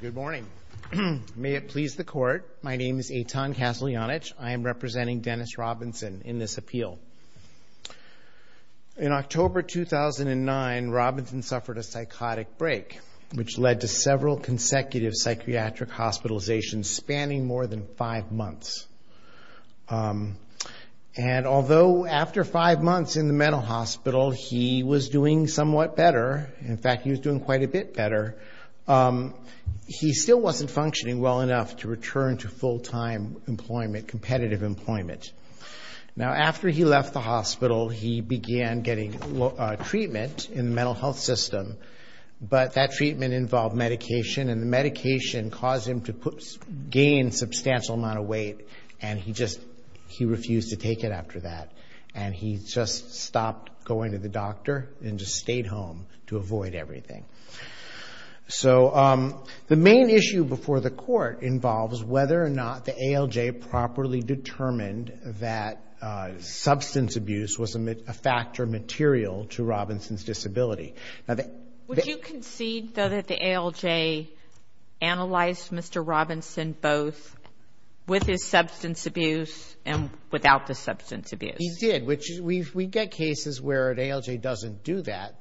Good morning. May it please the court, my name is Eitan Kaslianich. I am representing Dennis Robinson in this appeal. In October 2009, Robinson suffered a psychotic break, which led to several consecutive psychiatric hospitalizations spanning more than five months. And although after five months in the mental hospital, he was doing somewhat better, in fact he was doing quite a bit better, he still wasn't functioning well enough to return to full-time employment, competitive employment. Now, after he left the hospital, he began getting treatment in the mental health system, but that treatment involved medication, and the medication caused him to gain a stroke, and he just, he refused to take it after that, and he just stopped going to the doctor and just stayed home to avoid everything. So the main issue before the court involves whether or not the ALJ properly determined that substance abuse was a factor material to Robinson's disability. Would you concede, though, that the ALJ analyzed Mr. Robinson both with his substance abuse and without the substance abuse? He did, which we get cases where the ALJ doesn't do that.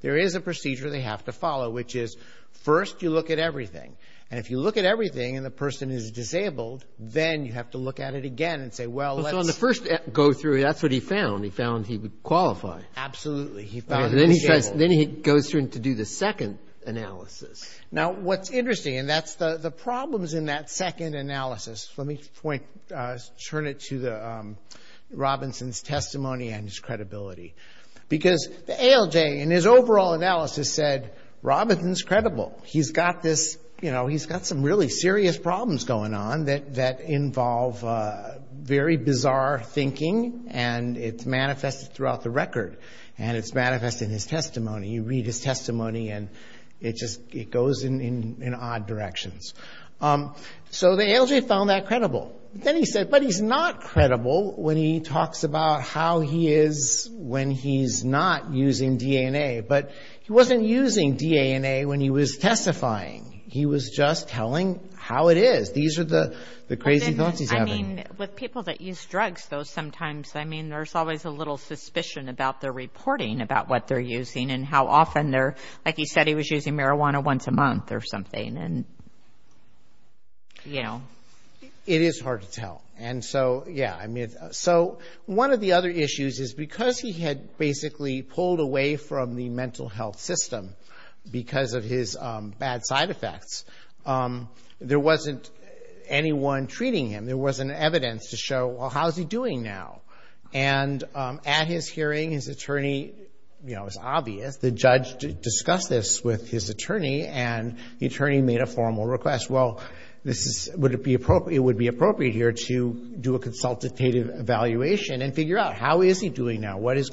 There is a procedure they have to follow, which is first you look at everything, and if you look at everything and the person is disabled, then you have to look at it again and say, well, let's first go through, that's what he found, he found he would qualify. Absolutely, he found he was disabled. Then he goes through to do the second analysis. Now, what's interesting, and that's the problems in that second analysis, let me point, turn it to Robinson's testimony and his credibility, because the ALJ in his overall analysis said, Robinson's credible, he's got this, you know, he's got some really serious problems going on that involve very bizarre thinking, and it's manifested throughout the record, and it's manifested in his testimony. You read his testimony, and it just, it goes in odd directions. So the ALJ found that credible. Then he said, but he's not credible when he talks about how he is when he's not using DNA, but he was just telling how it is. These are the crazy thoughts he's having. I mean, with people that use drugs, though, sometimes, I mean, there's always a little suspicion about their reporting about what they're using and how often they're, like he said, he was using marijuana once a month or something, and, you know. It is hard to tell, and so, yeah, I mean, so one of the other issues is because he had basically pulled away from the mental health system because of his bad side effects, there wasn't anyone treating him. There wasn't evidence to show, well, how's he doing now? And at his hearing, his attorney, you know, it's obvious, the judge discussed this with his attorney, and the attorney made a formal request. Well, this is, would it be appropriate, it would be appropriate here to do a consultative evaluation and figure out, how is he doing? And he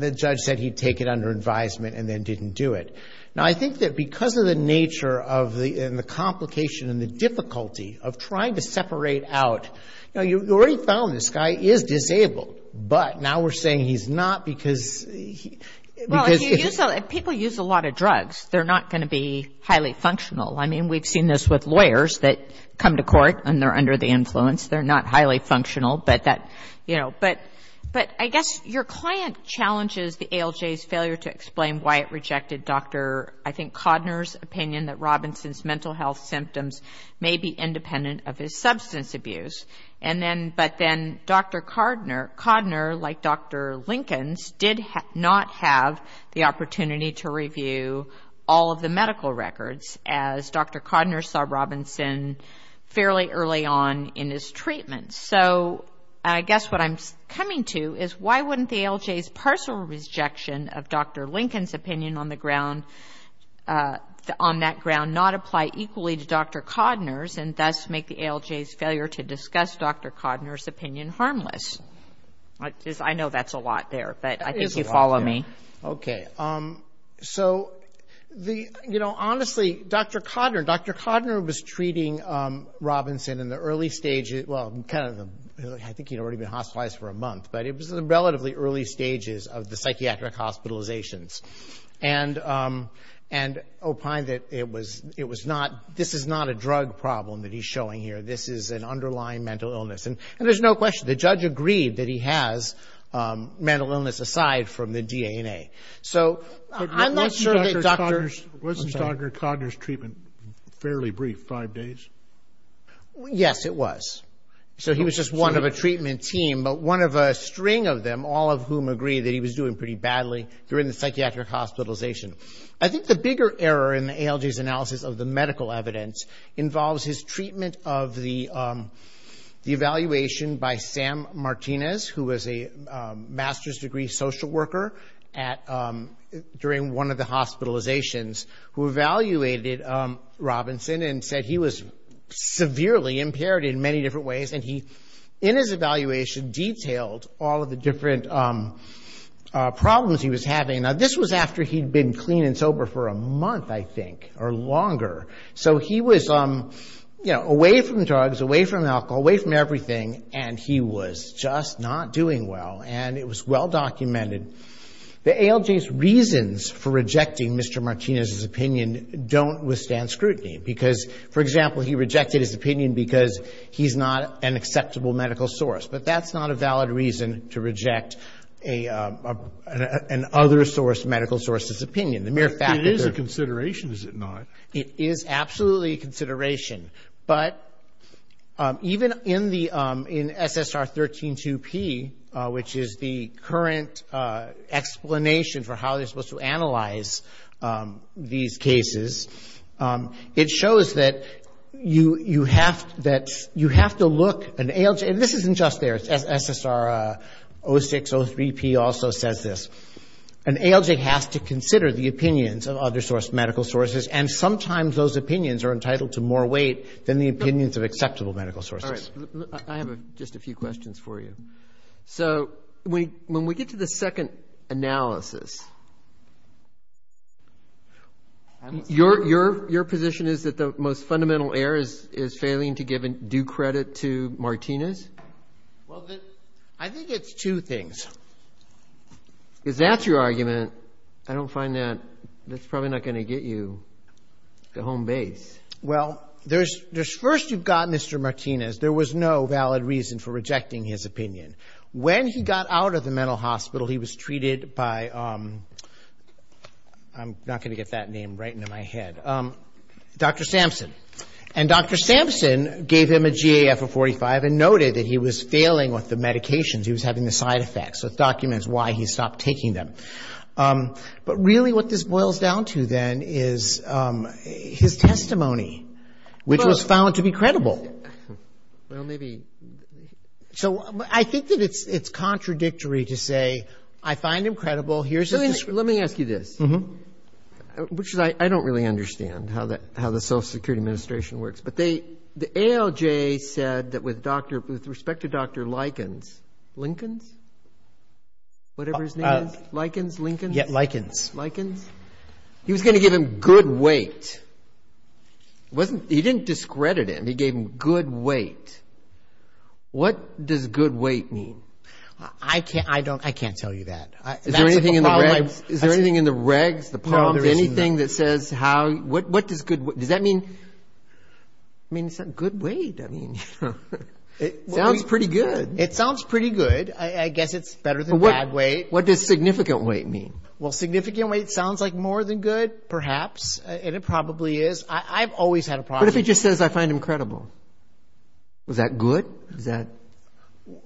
did it under advisement and then didn't do it. Now, I think that because of the nature of the, and the complication and the difficulty of trying to separate out, you know, you already found this guy is disabled, but now we're saying he's not because he, because. Well, if you use, if people use a lot of drugs, they're not going to be highly functional. I mean, we've seen this with lawyers that explain why it rejected Dr., I think, Codner's opinion that Robinson's mental health symptoms may be independent of his substance abuse. And then, but then Dr. Codner, like Dr. Lincolns, did not have the opportunity to review all of the medical records, as Dr. Codner saw Robinson fairly early on in his treatment. So, I guess what I'm coming to is, why wouldn't the ALJ's partial rejection of Dr. Lincoln's opinion on the ground, on that ground, not apply equally to Dr. Codner's and thus make the ALJ's failure to discuss Dr. Codner's opinion harmless? I know that's a lot there, but I think you follow me. Okay. So, the, you know, honestly, Dr. Codner, Dr. Codner was treating Robinson in the early stages, well, kind of, I think he'd already been hospitalized for a month, but it was in the relatively early stages of the psychiatric hospitalizations. And, and opined that it was, it was not, this is not a drug problem that he's showing here. This is an underlying mental illness. And there's no question, the judge agreed that he has mental illness aside from the D.A. And it was not a drug problem. So, I'm not sure that Dr., was Dr. Codner's treatment fairly brief, five days? Yes, it was. So, he was just one of the treatment team, but one of a string of them, all of whom agree that he was doing pretty badly during the psychiatric hospitalization. I think the bigger error in the ALJ's analysis of the medical evidence, involves his treatment of the, the evaluation by Sam Martinez, who was a master's degree social worker, and there's been a large and steep gap during one of the hospitalizations, who evaluated Robinson and said he was severely impaired in many different ways. And he, in his evaluation, detailed all of the different problems he was having. Now, this was after he'd been clean and sober for a month, I think, or longer. So, he was, you know, away from drugs, away from alcohol, away from everything, and he was just not doing well. And it was well documented, the ALJ's analysis of the medical evidence, involves his treatment of the medical evidence, and there's been a large and steep gap between the treatment of the medical evidence and the evaluation of the medical evidence. So, I'm not sure that Dr., was Dr., Codner's treatment fairly brief, five days? Yes, it was just one of a string of them, all of whom agree that he was doing pretty badly during the psychiatric hospitalization. I think the bigger error in the ALJ's analysis of the medical evidence, involves his treatment of the medical evidence, and there's been a large and steep gap between the ALJ's reasons for rejecting Mr. Martinez's opinion don't withstand scrutiny. Because, for example, he rejected his opinion because he's not an acceptable medical source. But that's not a valid reason to reject a, an other source, medical source's opinion. The mere fact that they're It is a consideration, is it not? It is absolutely a consideration. But, even in the, in SSR 13-2P, which is the current explanation for how they're supposed to analyze these cases, it shows that you, you have, that you have to look, an ALJ, and this isn't just theirs, SSR 06-03P also says this, an ALJ has to consider the opinions of other source, medical sources, and sometimes those opinions are entitled to more weight than the opinions of acceptable medical sources. All right, I have a, just a few questions for you. So, we, when we get to the second analysis, your, your, your position is that the most fundamental error is, is failing to give due credit to Martinez? Well, the, I think it's two things. If that's your argument, I don't find that, that's probably not going to get you to home base. Well, there's, there's, first you've got Mr. Martinez, there was no valid reason for rejecting his opinion. When he got out of the mental hospital, he was treated by, I'm not going to get that name right into my head, Dr. Sampson. And Dr. Sampson gave him a GAF of 45 and noted that he was failing with the medications, he was having the side effects. So, it documents why he stopped taking them. But really what this boils down to then is his testimony, which was found to be credible. Well, maybe. So, I think that it's, it's contradictory to say, I find him credible, here's his. Let me ask you this. Which is I, I don't really understand how the, how the Social Security Administration works, but they, the ALJ said that with Dr., with respect to Dr. Likens, Lincolns, whatever his name is, Likens, Lincoln? Yeah, Likens. Likens. He was going to give him good weight. Wasn't, he didn't discredit him, he gave him good weight. What does good weight mean? I can't, I don't, I can't tell you that. Is there anything in the regs, is there anything in the regs, the pump, anything that says how, what, what does good, does that mean? I mean, it's a good weight, I mean, you know. It sounds pretty good. It sounds pretty good. I, I guess it's better than bad weight. What does significant weight mean? Well, significant weight sounds like more than good, perhaps, and it probably is. I, I've always had a problem. What if he just says, I find him credible? Is that good? Is that?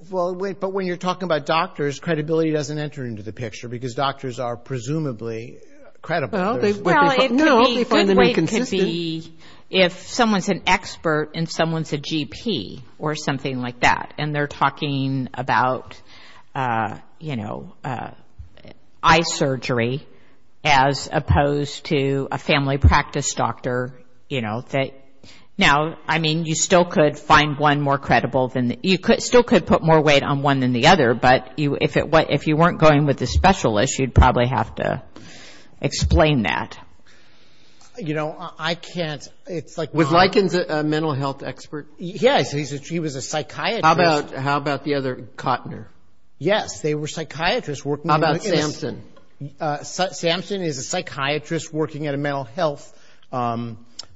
Well, wait, but when you're talking about doctors, credibility doesn't enter into the picture, because doctors are presumably credible. Well, they, well, it could be, good weight could be if someone's an expert and someone's a GP, or something like that. And they're talking about, you know, eye surgery, as opposed to a family practice doctor, you know, that. Now, I mean, you still could find one more credible than, you could, still could put more weight on one than the other, but you, if it, if you weren't going with a specialist, you'd probably have to explain that. You know, I can't, it's like. Was Likens a mental health expert? Yes, he was a psychiatrist. How about, how about the other, Kottner? Yes, they were psychiatrists working. How about Samson? Samson is a psychiatrist working at a mental health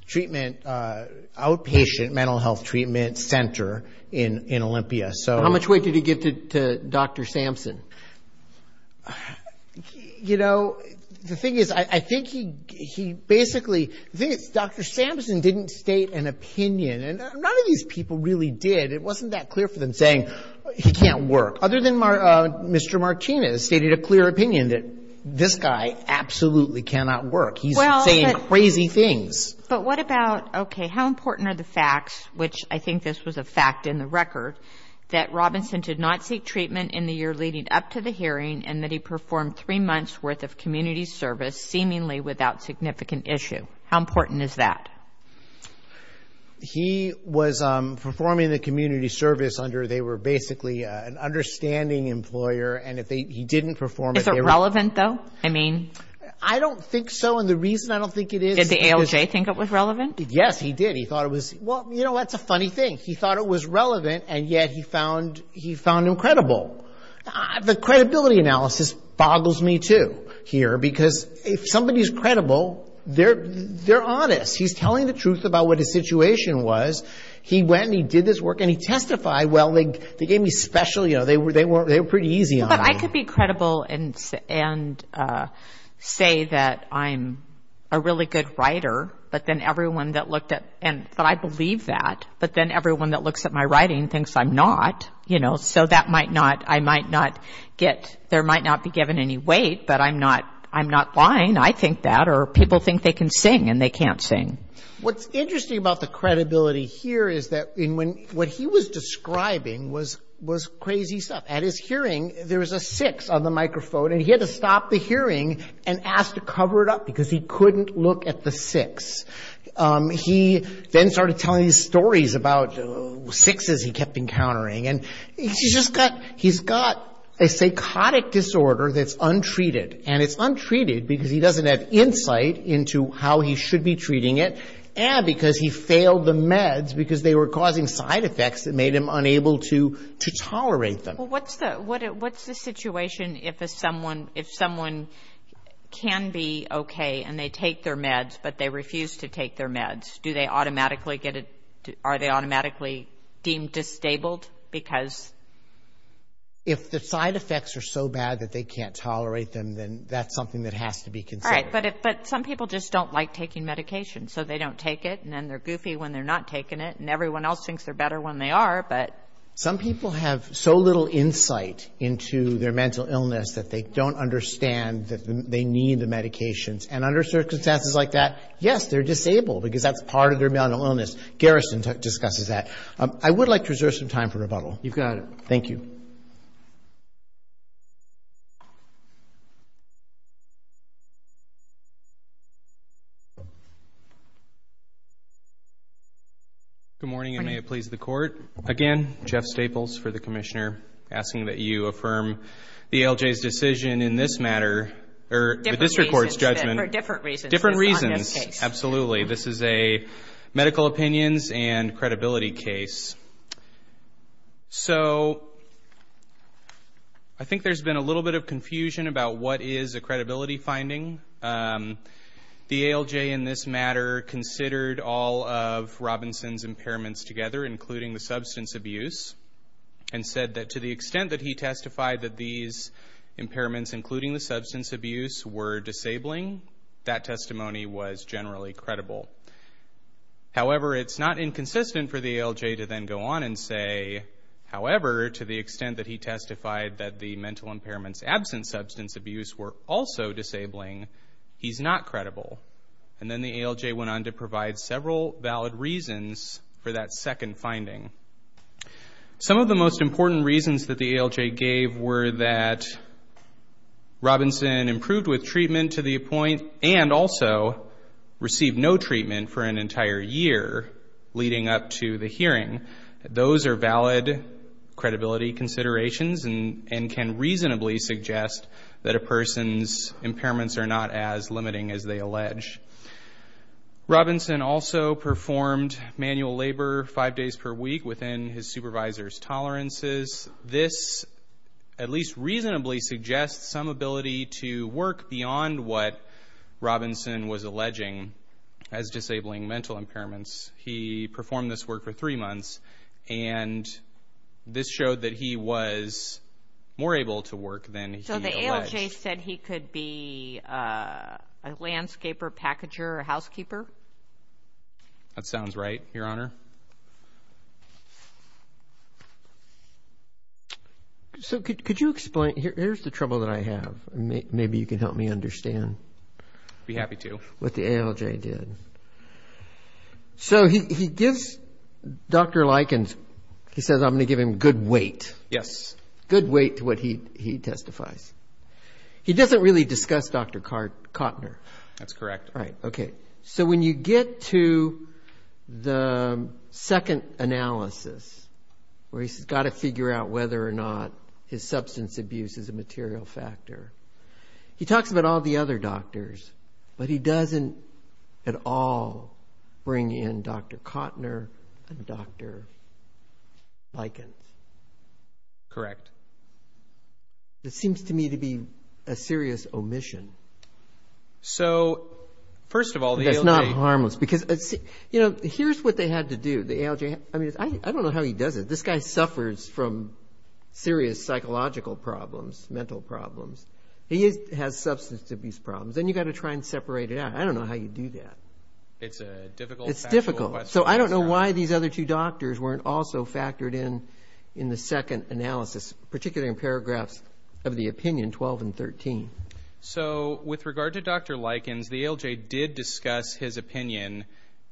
treatment, outpatient mental health treatment center in, in Olympia. So. How much weight did he give to, to Dr. Samson? You know, the thing is, I think he, he basically, the thing is, Dr. Samson didn't state an opinion. And none of these people really did. It wasn't that clear for them saying he can't work. Other than Mr. Martinez stated a clear opinion that this guy absolutely cannot work. He's saying crazy things. But what about, okay, how important are the facts, which I think this was a fact in the record, that Robinson did not seek treatment in the year leading up to the hearing and that he performed three months' worth of community service seemingly without significant issue? How important is that? He was performing the community service under, they were basically an understanding employer, and if they, he didn't perform it. Is it relevant, though? I mean. I don't think so, and the reason I don't think it is. Did the ALJ think it was relevant? Yes, he did. He thought it was, well, you know, that's a funny thing. He thought it was relevant, and yet he found, he found him credible. The credibility analysis boggles me, too, here, because if somebody's credible, they're honest. He's telling the truth about what his situation was. He went and he did his work, and he testified, well, they gave me special, you know, they were pretty easy on me. Well, but I could be credible and say that I'm a really good writer, but then everyone that looked at, but I believe that, but then everyone that looks at my writing thinks I'm not, you know, so that might not, I might not get, there might not be given any weight, but I'm not, I'm not lying. I think that, or people think they can sing, and they can't sing. What's interesting about the credibility here is that when, what he was describing was crazy stuff. At his hearing, there was a six on the microphone, and he had to stop the hearing and ask to cover it up because he couldn't look at the six. He then started telling these stories about sixes he kept encountering, and he's just got, he's got a psychotic disorder that's untreated, and it's untreated because he doesn't have insight into how he should be treating it, and because he failed the meds because they were causing side effects that made him unable to tolerate them. Well, what's the, what's the situation if a someone, if someone can be okay and they take their meds, but they refuse to take their meds? Do they automatically get a, are they automatically deemed disabled because? If the side effects are so bad that they can't tolerate them, then that's something that has to be considered. All right, but if, but some people just don't like taking medication, so they don't take it, and then they're goofy when they're not taking it, and everyone else thinks they're better when they are, but. Some people have so little insight into their mental illness that they don't understand that they need the medications, and under circumstances like that, yes, they're disabled because that's part of their mental illness. Garrison discusses that. I would like to reserve some time for rebuttal. You've got it. Thank you. Good morning, and may it please the Court. Again, Jeff Staples for the Commissioner, asking that you affirm the ALJ's decision in this matter, or the district court's judgment. Different reasons. Different reasons, absolutely. This is a medical opinions and credibility case. So I think there's been a little bit of confusion about what is a credibility finding. The ALJ in this matter considered all of Robinson's impairments together, including the substance abuse, and said that to the extent that he testified that these impairments, including the substance abuse, were disabling, that testimony was generally credible. However, it's not inconsistent for the ALJ to then go on and say, however, to the extent that he testified that the mental impairments absent substance abuse were also disabling, he's not credible. And then the ALJ went on to provide several valid reasons for that second finding. Some of the most important reasons that the ALJ gave were that Robinson improved with treatment to the point and also received no treatment for an entire year leading up to the hearing. Those are valid credibility considerations and can reasonably suggest that a person's impairments are not as limiting as they allege. Robinson also performed manual labor five days per week within his supervisor's tolerances. This at least reasonably suggests some ability to work beyond what Robinson was alleging as disabling mental impairments. He performed this work for three months, and this showed that he was more able to work than he alleged. So the ALJ said he could be a landscaper, packager, or housekeeper? That sounds right, Your Honor. So could you explain? Here's the trouble that I have. Maybe you can help me understand. I'd be happy to. What the ALJ did. So he gives Dr. Likens, he says, I'm going to give him good weight. Yes. Good weight to what he testifies. He doesn't really discuss Dr. Kottner. That's correct. Right, okay. So when you get to the second analysis where he's got to figure out whether or not his substance abuse is a material factor, he talks about all the other doctors, but he doesn't at all bring in Dr. Kottner and Dr. Likens. Correct. This seems to me to be a serious omission. So, first of all, the ALJ... That's not harmless. Because, you know, here's what they had to do, the ALJ. I mean, I don't know how he does it. This guy suffers from serious psychological problems, mental problems. He has substance abuse problems. And you've got to try and separate it out. I don't know how you do that. It's a difficult question. It's difficult. So I don't know why these other two doctors weren't also factored in in the second analysis, particularly in paragraphs of the opinion 12 and 13. So with regard to Dr. Likens, the ALJ did discuss his opinion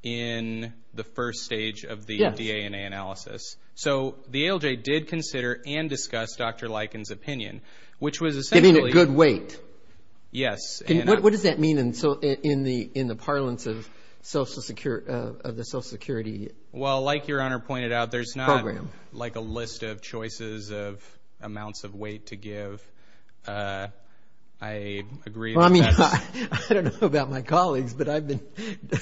in the first stage of the DNA analysis. So the ALJ did consider and discuss Dr. Likens' opinion, which was essentially... Giving it good weight. Yes. What does that mean in the parlance of the Social Security program? Well, like Your Honor pointed out, there's not like a list of choices of amounts of weight to give. I agree with that. I don't know about my colleagues, but I've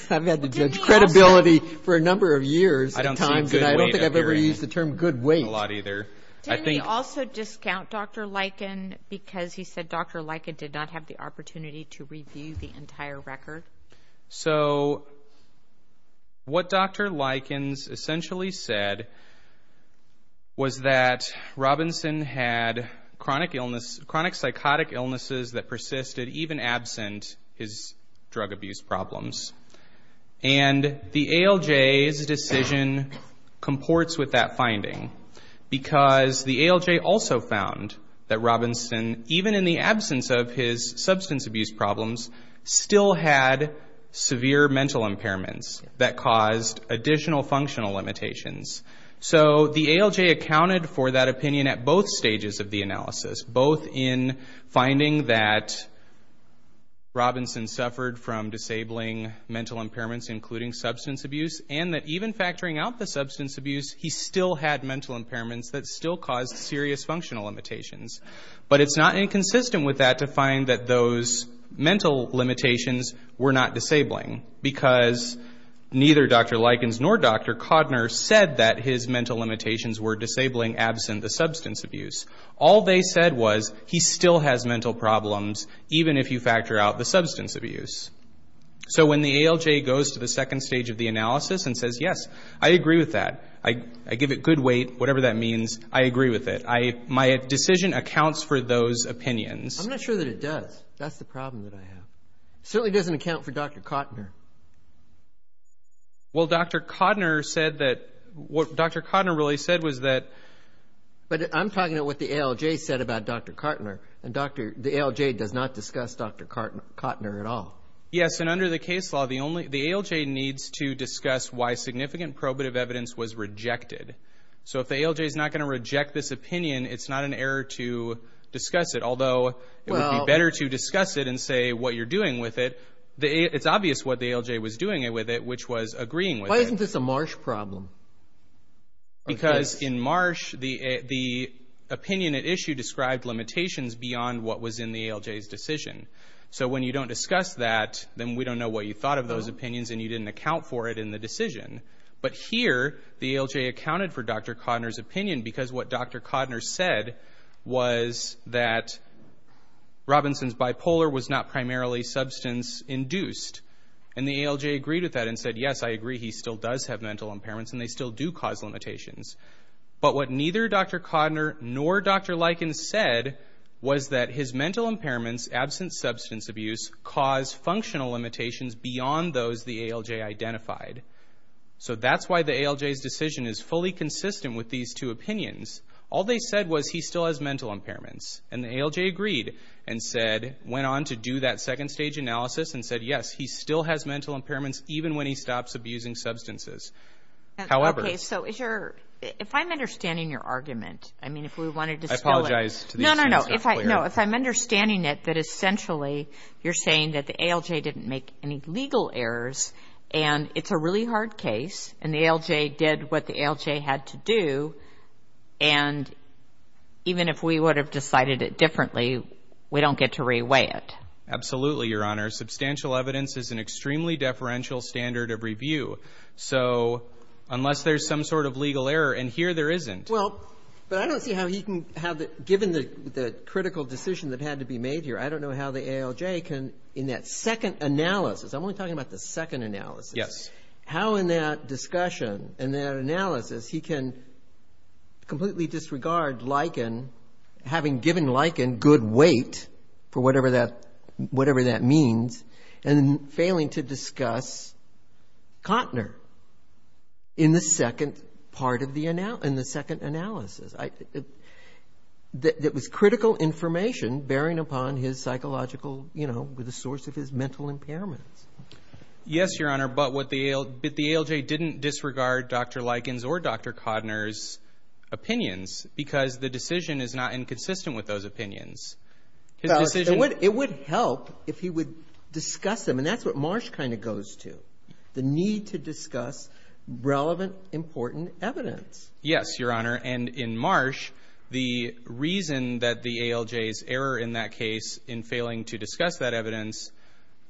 had to judge credibility for a number of years at times. I don't think I've ever used the term good weight a lot either. Didn't he also discount Dr. Likens because he said Dr. Likens did not have the opportunity to review the entire record? So what Dr. Likens essentially said was that Robinson had chronic psychotic illnesses that persisted even absent his drug abuse problems. And the ALJ's decision comports with that finding because the ALJ also found that Robinson, even in the absence of his substance abuse problems, still had severe mental impairments that caused additional functional limitations. So the ALJ accounted for that opinion at both stages of the analysis, both in finding that Robinson suffered from disabling mental impairments, including substance abuse, and that even factoring out the substance abuse, he still had mental impairments that still caused serious functional limitations. But it's not inconsistent with that to find that those mental limitations were not disabling because neither Dr. Likens nor Dr. Codner said that his mental limitations were disabling absent the substance abuse. All they said was he still has mental problems, even if you factor out the substance abuse. So when the ALJ goes to the second stage of the analysis and says, yes, I agree with that, I give it good weight, whatever that means, I agree with it, my decision accounts for those opinions. I'm not sure that it does. That's the problem that I have. It certainly doesn't account for Dr. Codner. Well, Dr. Codner said that what Dr. Codner really said was that... But I'm talking about what the ALJ said about Dr. Codner, and the ALJ does not discuss Dr. Codner at all. Yes, and under the case law, the ALJ needs to discuss why significant probative evidence was rejected. So if the ALJ is not going to reject this opinion, it's not an error to discuss it, although it would be better to discuss it and say what you're doing with it. It's obvious what the ALJ was doing with it, which was agreeing with it. Why isn't this a Marsh problem? Because in Marsh, the opinion at issue described limitations beyond what was in the ALJ's decision. So when you don't discuss that, then we don't know what you thought of those opinions, and you didn't account for it in the decision. But here, the ALJ accounted for Dr. Codner's opinion because what Dr. Codner said was that Robinson's bipolar was not primarily substance-induced. And the ALJ agreed with that and said, yes, I agree, he still does have mental impairments, and they still do cause limitations. But what neither Dr. Codner nor Dr. Lykins said was that his mental impairments, absent substance abuse, cause functional limitations beyond those the ALJ identified. So that's why the ALJ's decision is fully consistent with these two opinions. All they said was he still has mental impairments. And the ALJ agreed and went on to do that second-stage analysis and said, yes, he still has mental impairments even when he stops abusing substances. However. Okay, so if I'm understanding your argument, I mean, if we wanted to spell it. I apologize to the audience. No, no, no. If I'm understanding it, that essentially you're saying that the ALJ didn't make any legal errors, and it's a really hard case, and the ALJ did what the ALJ had to do, and even if we would have decided it differently, we don't get to reweigh it. Absolutely, Your Honor. Substantial evidence is an extremely deferential standard of review. So unless there's some sort of legal error, and here there isn't. Well, but I don't see how he can have it, given the critical decision that had to be made here. I don't know how the ALJ can, in that second analysis, I'm only talking about the second analysis. Yes. How in that discussion, in that analysis, he can completely disregard Lykin, having given Lykin good weight, for whatever that means, and failing to discuss Cotner in the second part of the analysis. It was critical information bearing upon his psychological, you know, the source of his mental impairments. Yes, Your Honor, but the ALJ didn't disregard Dr. Lykin's or Dr. Cotner's opinions because the decision is not inconsistent with those opinions. It would help if he would discuss them, and that's what Marsh kind of goes to, the need to discuss relevant, important evidence. Yes, Your Honor, and in Marsh, the reason that the ALJ's error in that case in failing to discuss that evidence,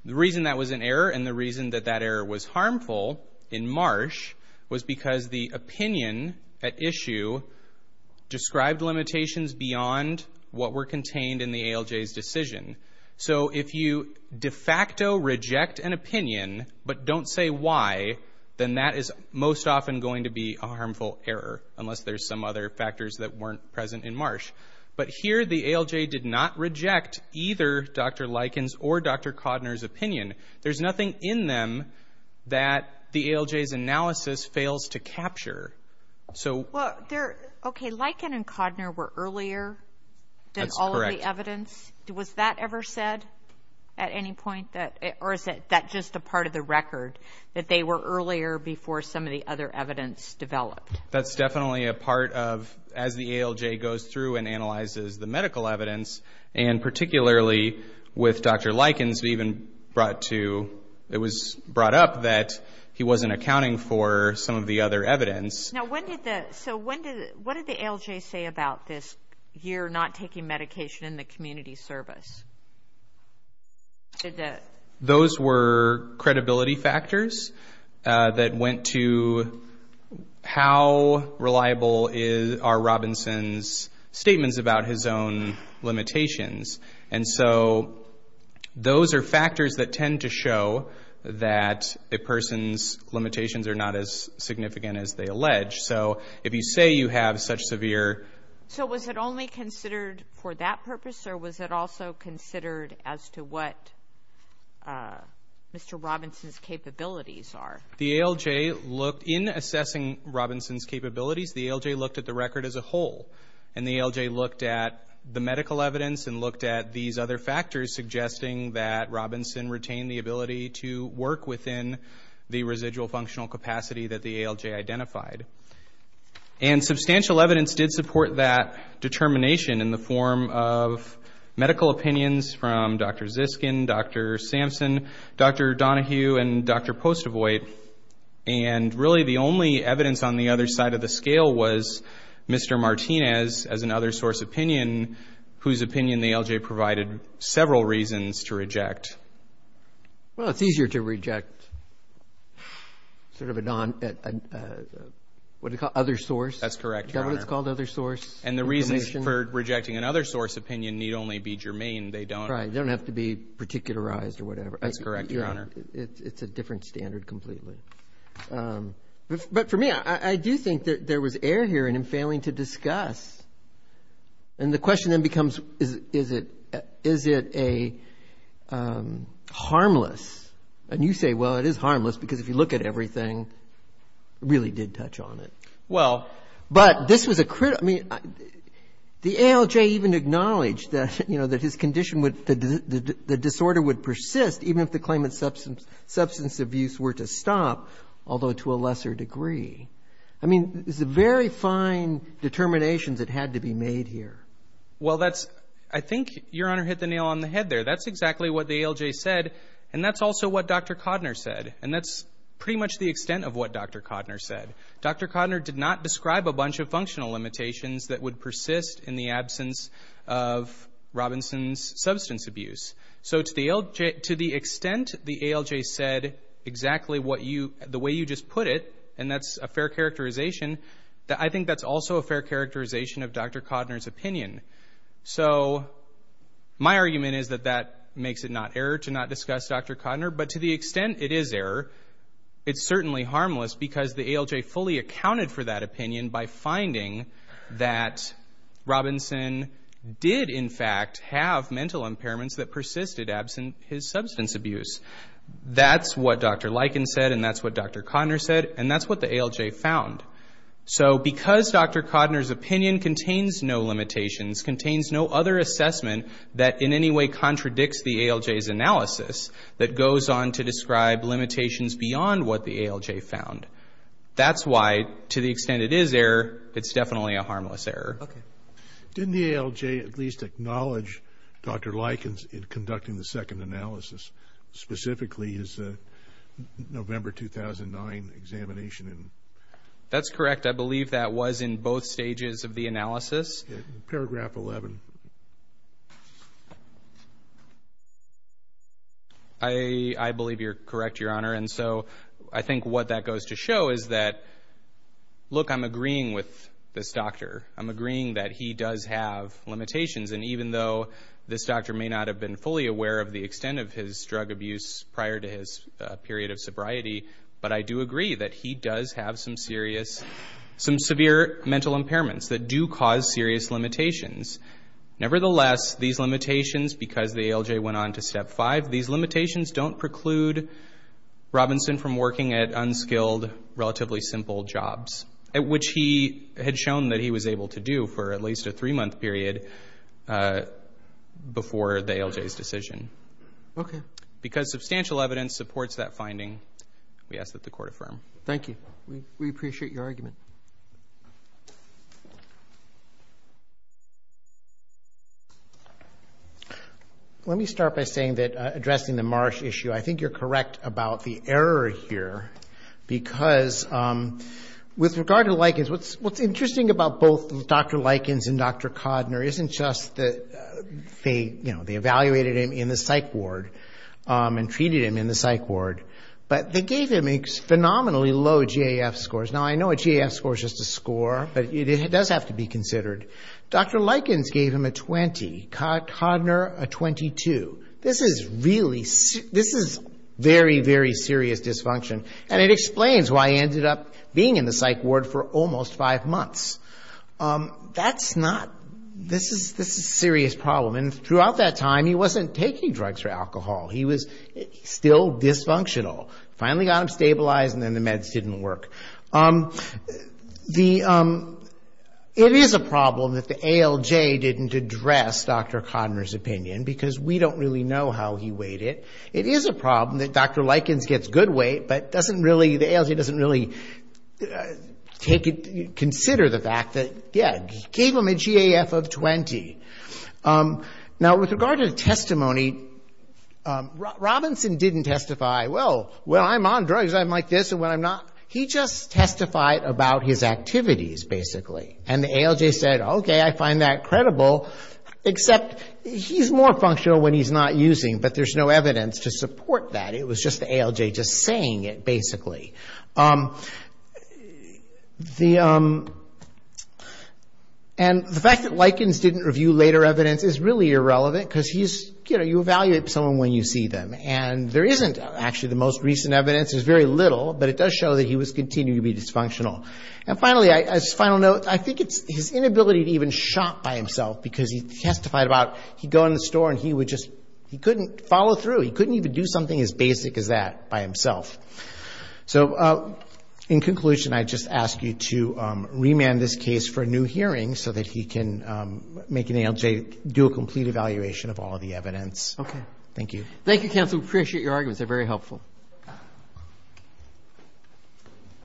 the reason that was an error and the reason that that error was harmful in Marsh was because the opinion at issue described limitations beyond what were contained in the ALJ's decision. So if you de facto reject an opinion but don't say why, then that is most often going to be a harmful error, unless there's some other factors that weren't present in Marsh. But here the ALJ did not reject either Dr. Lykin's or Dr. Cotner's opinion. There's nothing in them that the ALJ's analysis fails to capture. Okay, Lykin and Cotner were earlier than all of the evidence. That's correct. Was that ever said at any point, or is that just a part of the record, that they were earlier before some of the other evidence developed? That's definitely a part of, as the ALJ goes through and analyzes the medical evidence, and particularly with Dr. Lykin's, it was brought up that he wasn't accounting for some of the other evidence. So what did the ALJ say about this year not taking medication in the community service? Those were credibility factors that went to how reliable are Robinson's statements about his own limitations. And so those are factors that tend to show that a person's limitations are not as significant as they allege. So if you say you have such severe... So was it only considered for that purpose, or was it also considered as to what Mr. Robinson's capabilities are? In assessing Robinson's capabilities, the ALJ looked at the record as a whole, and the ALJ looked at the medical evidence and looked at these other factors suggesting that Robinson retained the ability to work within the residual functional capacity that the ALJ identified. And substantial evidence did support that determination in the form of medical opinions from Dr. Ziskin, Dr. Sampson, Dr. Donohue, and Dr. Postavoy. And really the only evidence on the other side of the scale was Mr. Martinez, as an other source opinion, whose opinion the ALJ provided several reasons to reject. Well, it's easier to reject sort of a non other source. That's correct, Your Honor. Government's called other source. And the reasons for rejecting another source opinion need only be germane. That's correct, Your Honor. It's a different standard completely. But for me, I do think that there was error here in him failing to discuss. And the question then becomes, is it harmless? And you say, well, it is harmless, because if you look at everything, it really did touch on it. Well. But this was a critical ñ I mean, the ALJ even acknowledged that, you know, that his condition would ñ the disorder would persist, even if the claimant's substance abuse were to stop, although to a lesser degree. I mean, it's a very fine determination that had to be made here. Well, that's ñ I think Your Honor hit the nail on the head there. That's exactly what the ALJ said. And that's also what Dr. Codner said. And that's pretty much the extent of what Dr. Codner said. Dr. Codner did not describe a bunch of functional limitations that would persist in the absence of Robinson's substance abuse. So to the extent the ALJ said exactly what you ñ the way you just put it, and that's a fair characterization, I think that's also a fair characterization of Dr. Codner's opinion. So my argument is that that makes it not error to not discuss Dr. Codner. But to the extent it is error, it's certainly harmless, because the ALJ fully accounted for that opinion by finding that Robinson did, in fact, have mental impairments that persisted absent his substance abuse. That's what Dr. Lykin said, and that's what Dr. Codner said, and that's what the ALJ found. So because Dr. Codner's opinion contains no limitations, contains no other assessment that in any way contradicts the ALJ's analysis that goes on to describe limitations beyond what the ALJ found. That's why, to the extent it is error, it's definitely a harmless error. Okay. Didn't the ALJ at least acknowledge Dr. Lykins in conducting the second analysis, specifically his November 2009 examination? That's correct. I believe that was in both stages of the analysis. Paragraph 11. I believe you're correct, Your Honor, and so I think what that goes to show is that, look, I'm agreeing with this doctor. I'm agreeing that he does have limitations, and even though this doctor may not have been fully aware of the extent of his drug abuse prior to his period of sobriety, but I do agree that he does have some serious, some severe mental impairments that do cause serious limitations. Nevertheless, these limitations, because the ALJ went on to Step 5, these limitations don't preclude Robinson from working at unskilled, relatively simple jobs, which he had shown that he was able to do for at least a three-month period before the ALJ's decision. Okay. Because substantial evidence supports that finding, we ask that the Court affirm. Thank you. We appreciate your argument. Let me start by saying that addressing the Marsh issue, I think you're correct about the error here, because with regard to Likens, what's interesting about both Dr. Likens and Dr. Codner isn't just that they, you know, they evaluated him in the psych ward and treated him in the psych ward, but they gave him phenomenally low GAF scores. Now, I know a GAF score is just a score, but it does have to be considered. Dr. Likens gave him a 20. Codner, a 22. This is really, this is very, very serious dysfunction, and it explains why he ended up being in the psych ward for almost five months. That's not, this is a serious problem, and throughout that time he wasn't taking drugs or alcohol. He was still dysfunctional. Finally got him stabilized, and then the meds didn't work. The, it is a problem that the ALJ didn't address Dr. Codner's opinion, because we don't really know how he weighed it. It is a problem that Dr. Likens gets good weight, but doesn't really, the ALJ doesn't really take it, consider the fact that, yeah, gave him a GAF of 20. Now, with regard to the testimony, Robinson didn't testify, well, I'm on drugs, I'm like this, and when I'm not. He just testified about his activities, basically, and the ALJ said, okay, I find that credible, except he's more functional when he's not using, but there's no evidence to support that. It was just the ALJ just saying it, basically. The, and the fact that Likens didn't review later evidence is really irrelevant, because he's, you know, you evaluate someone when you see them, and there isn't actually the most recent evidence, there's very little, but it does show that he was continually dysfunctional. And finally, as a final note, I think it's his inability to even shop by himself, because he testified about, he'd go in the store and he would just, he couldn't follow through. He couldn't even do something as basic as that by himself. So in conclusion, I just ask you to remand this case for a new hearing so that he can make an ALJ do a complete evaluation of all the evidence. Okay. Thank you. Thank you, counsel. We appreciate your arguments. They're very helpful.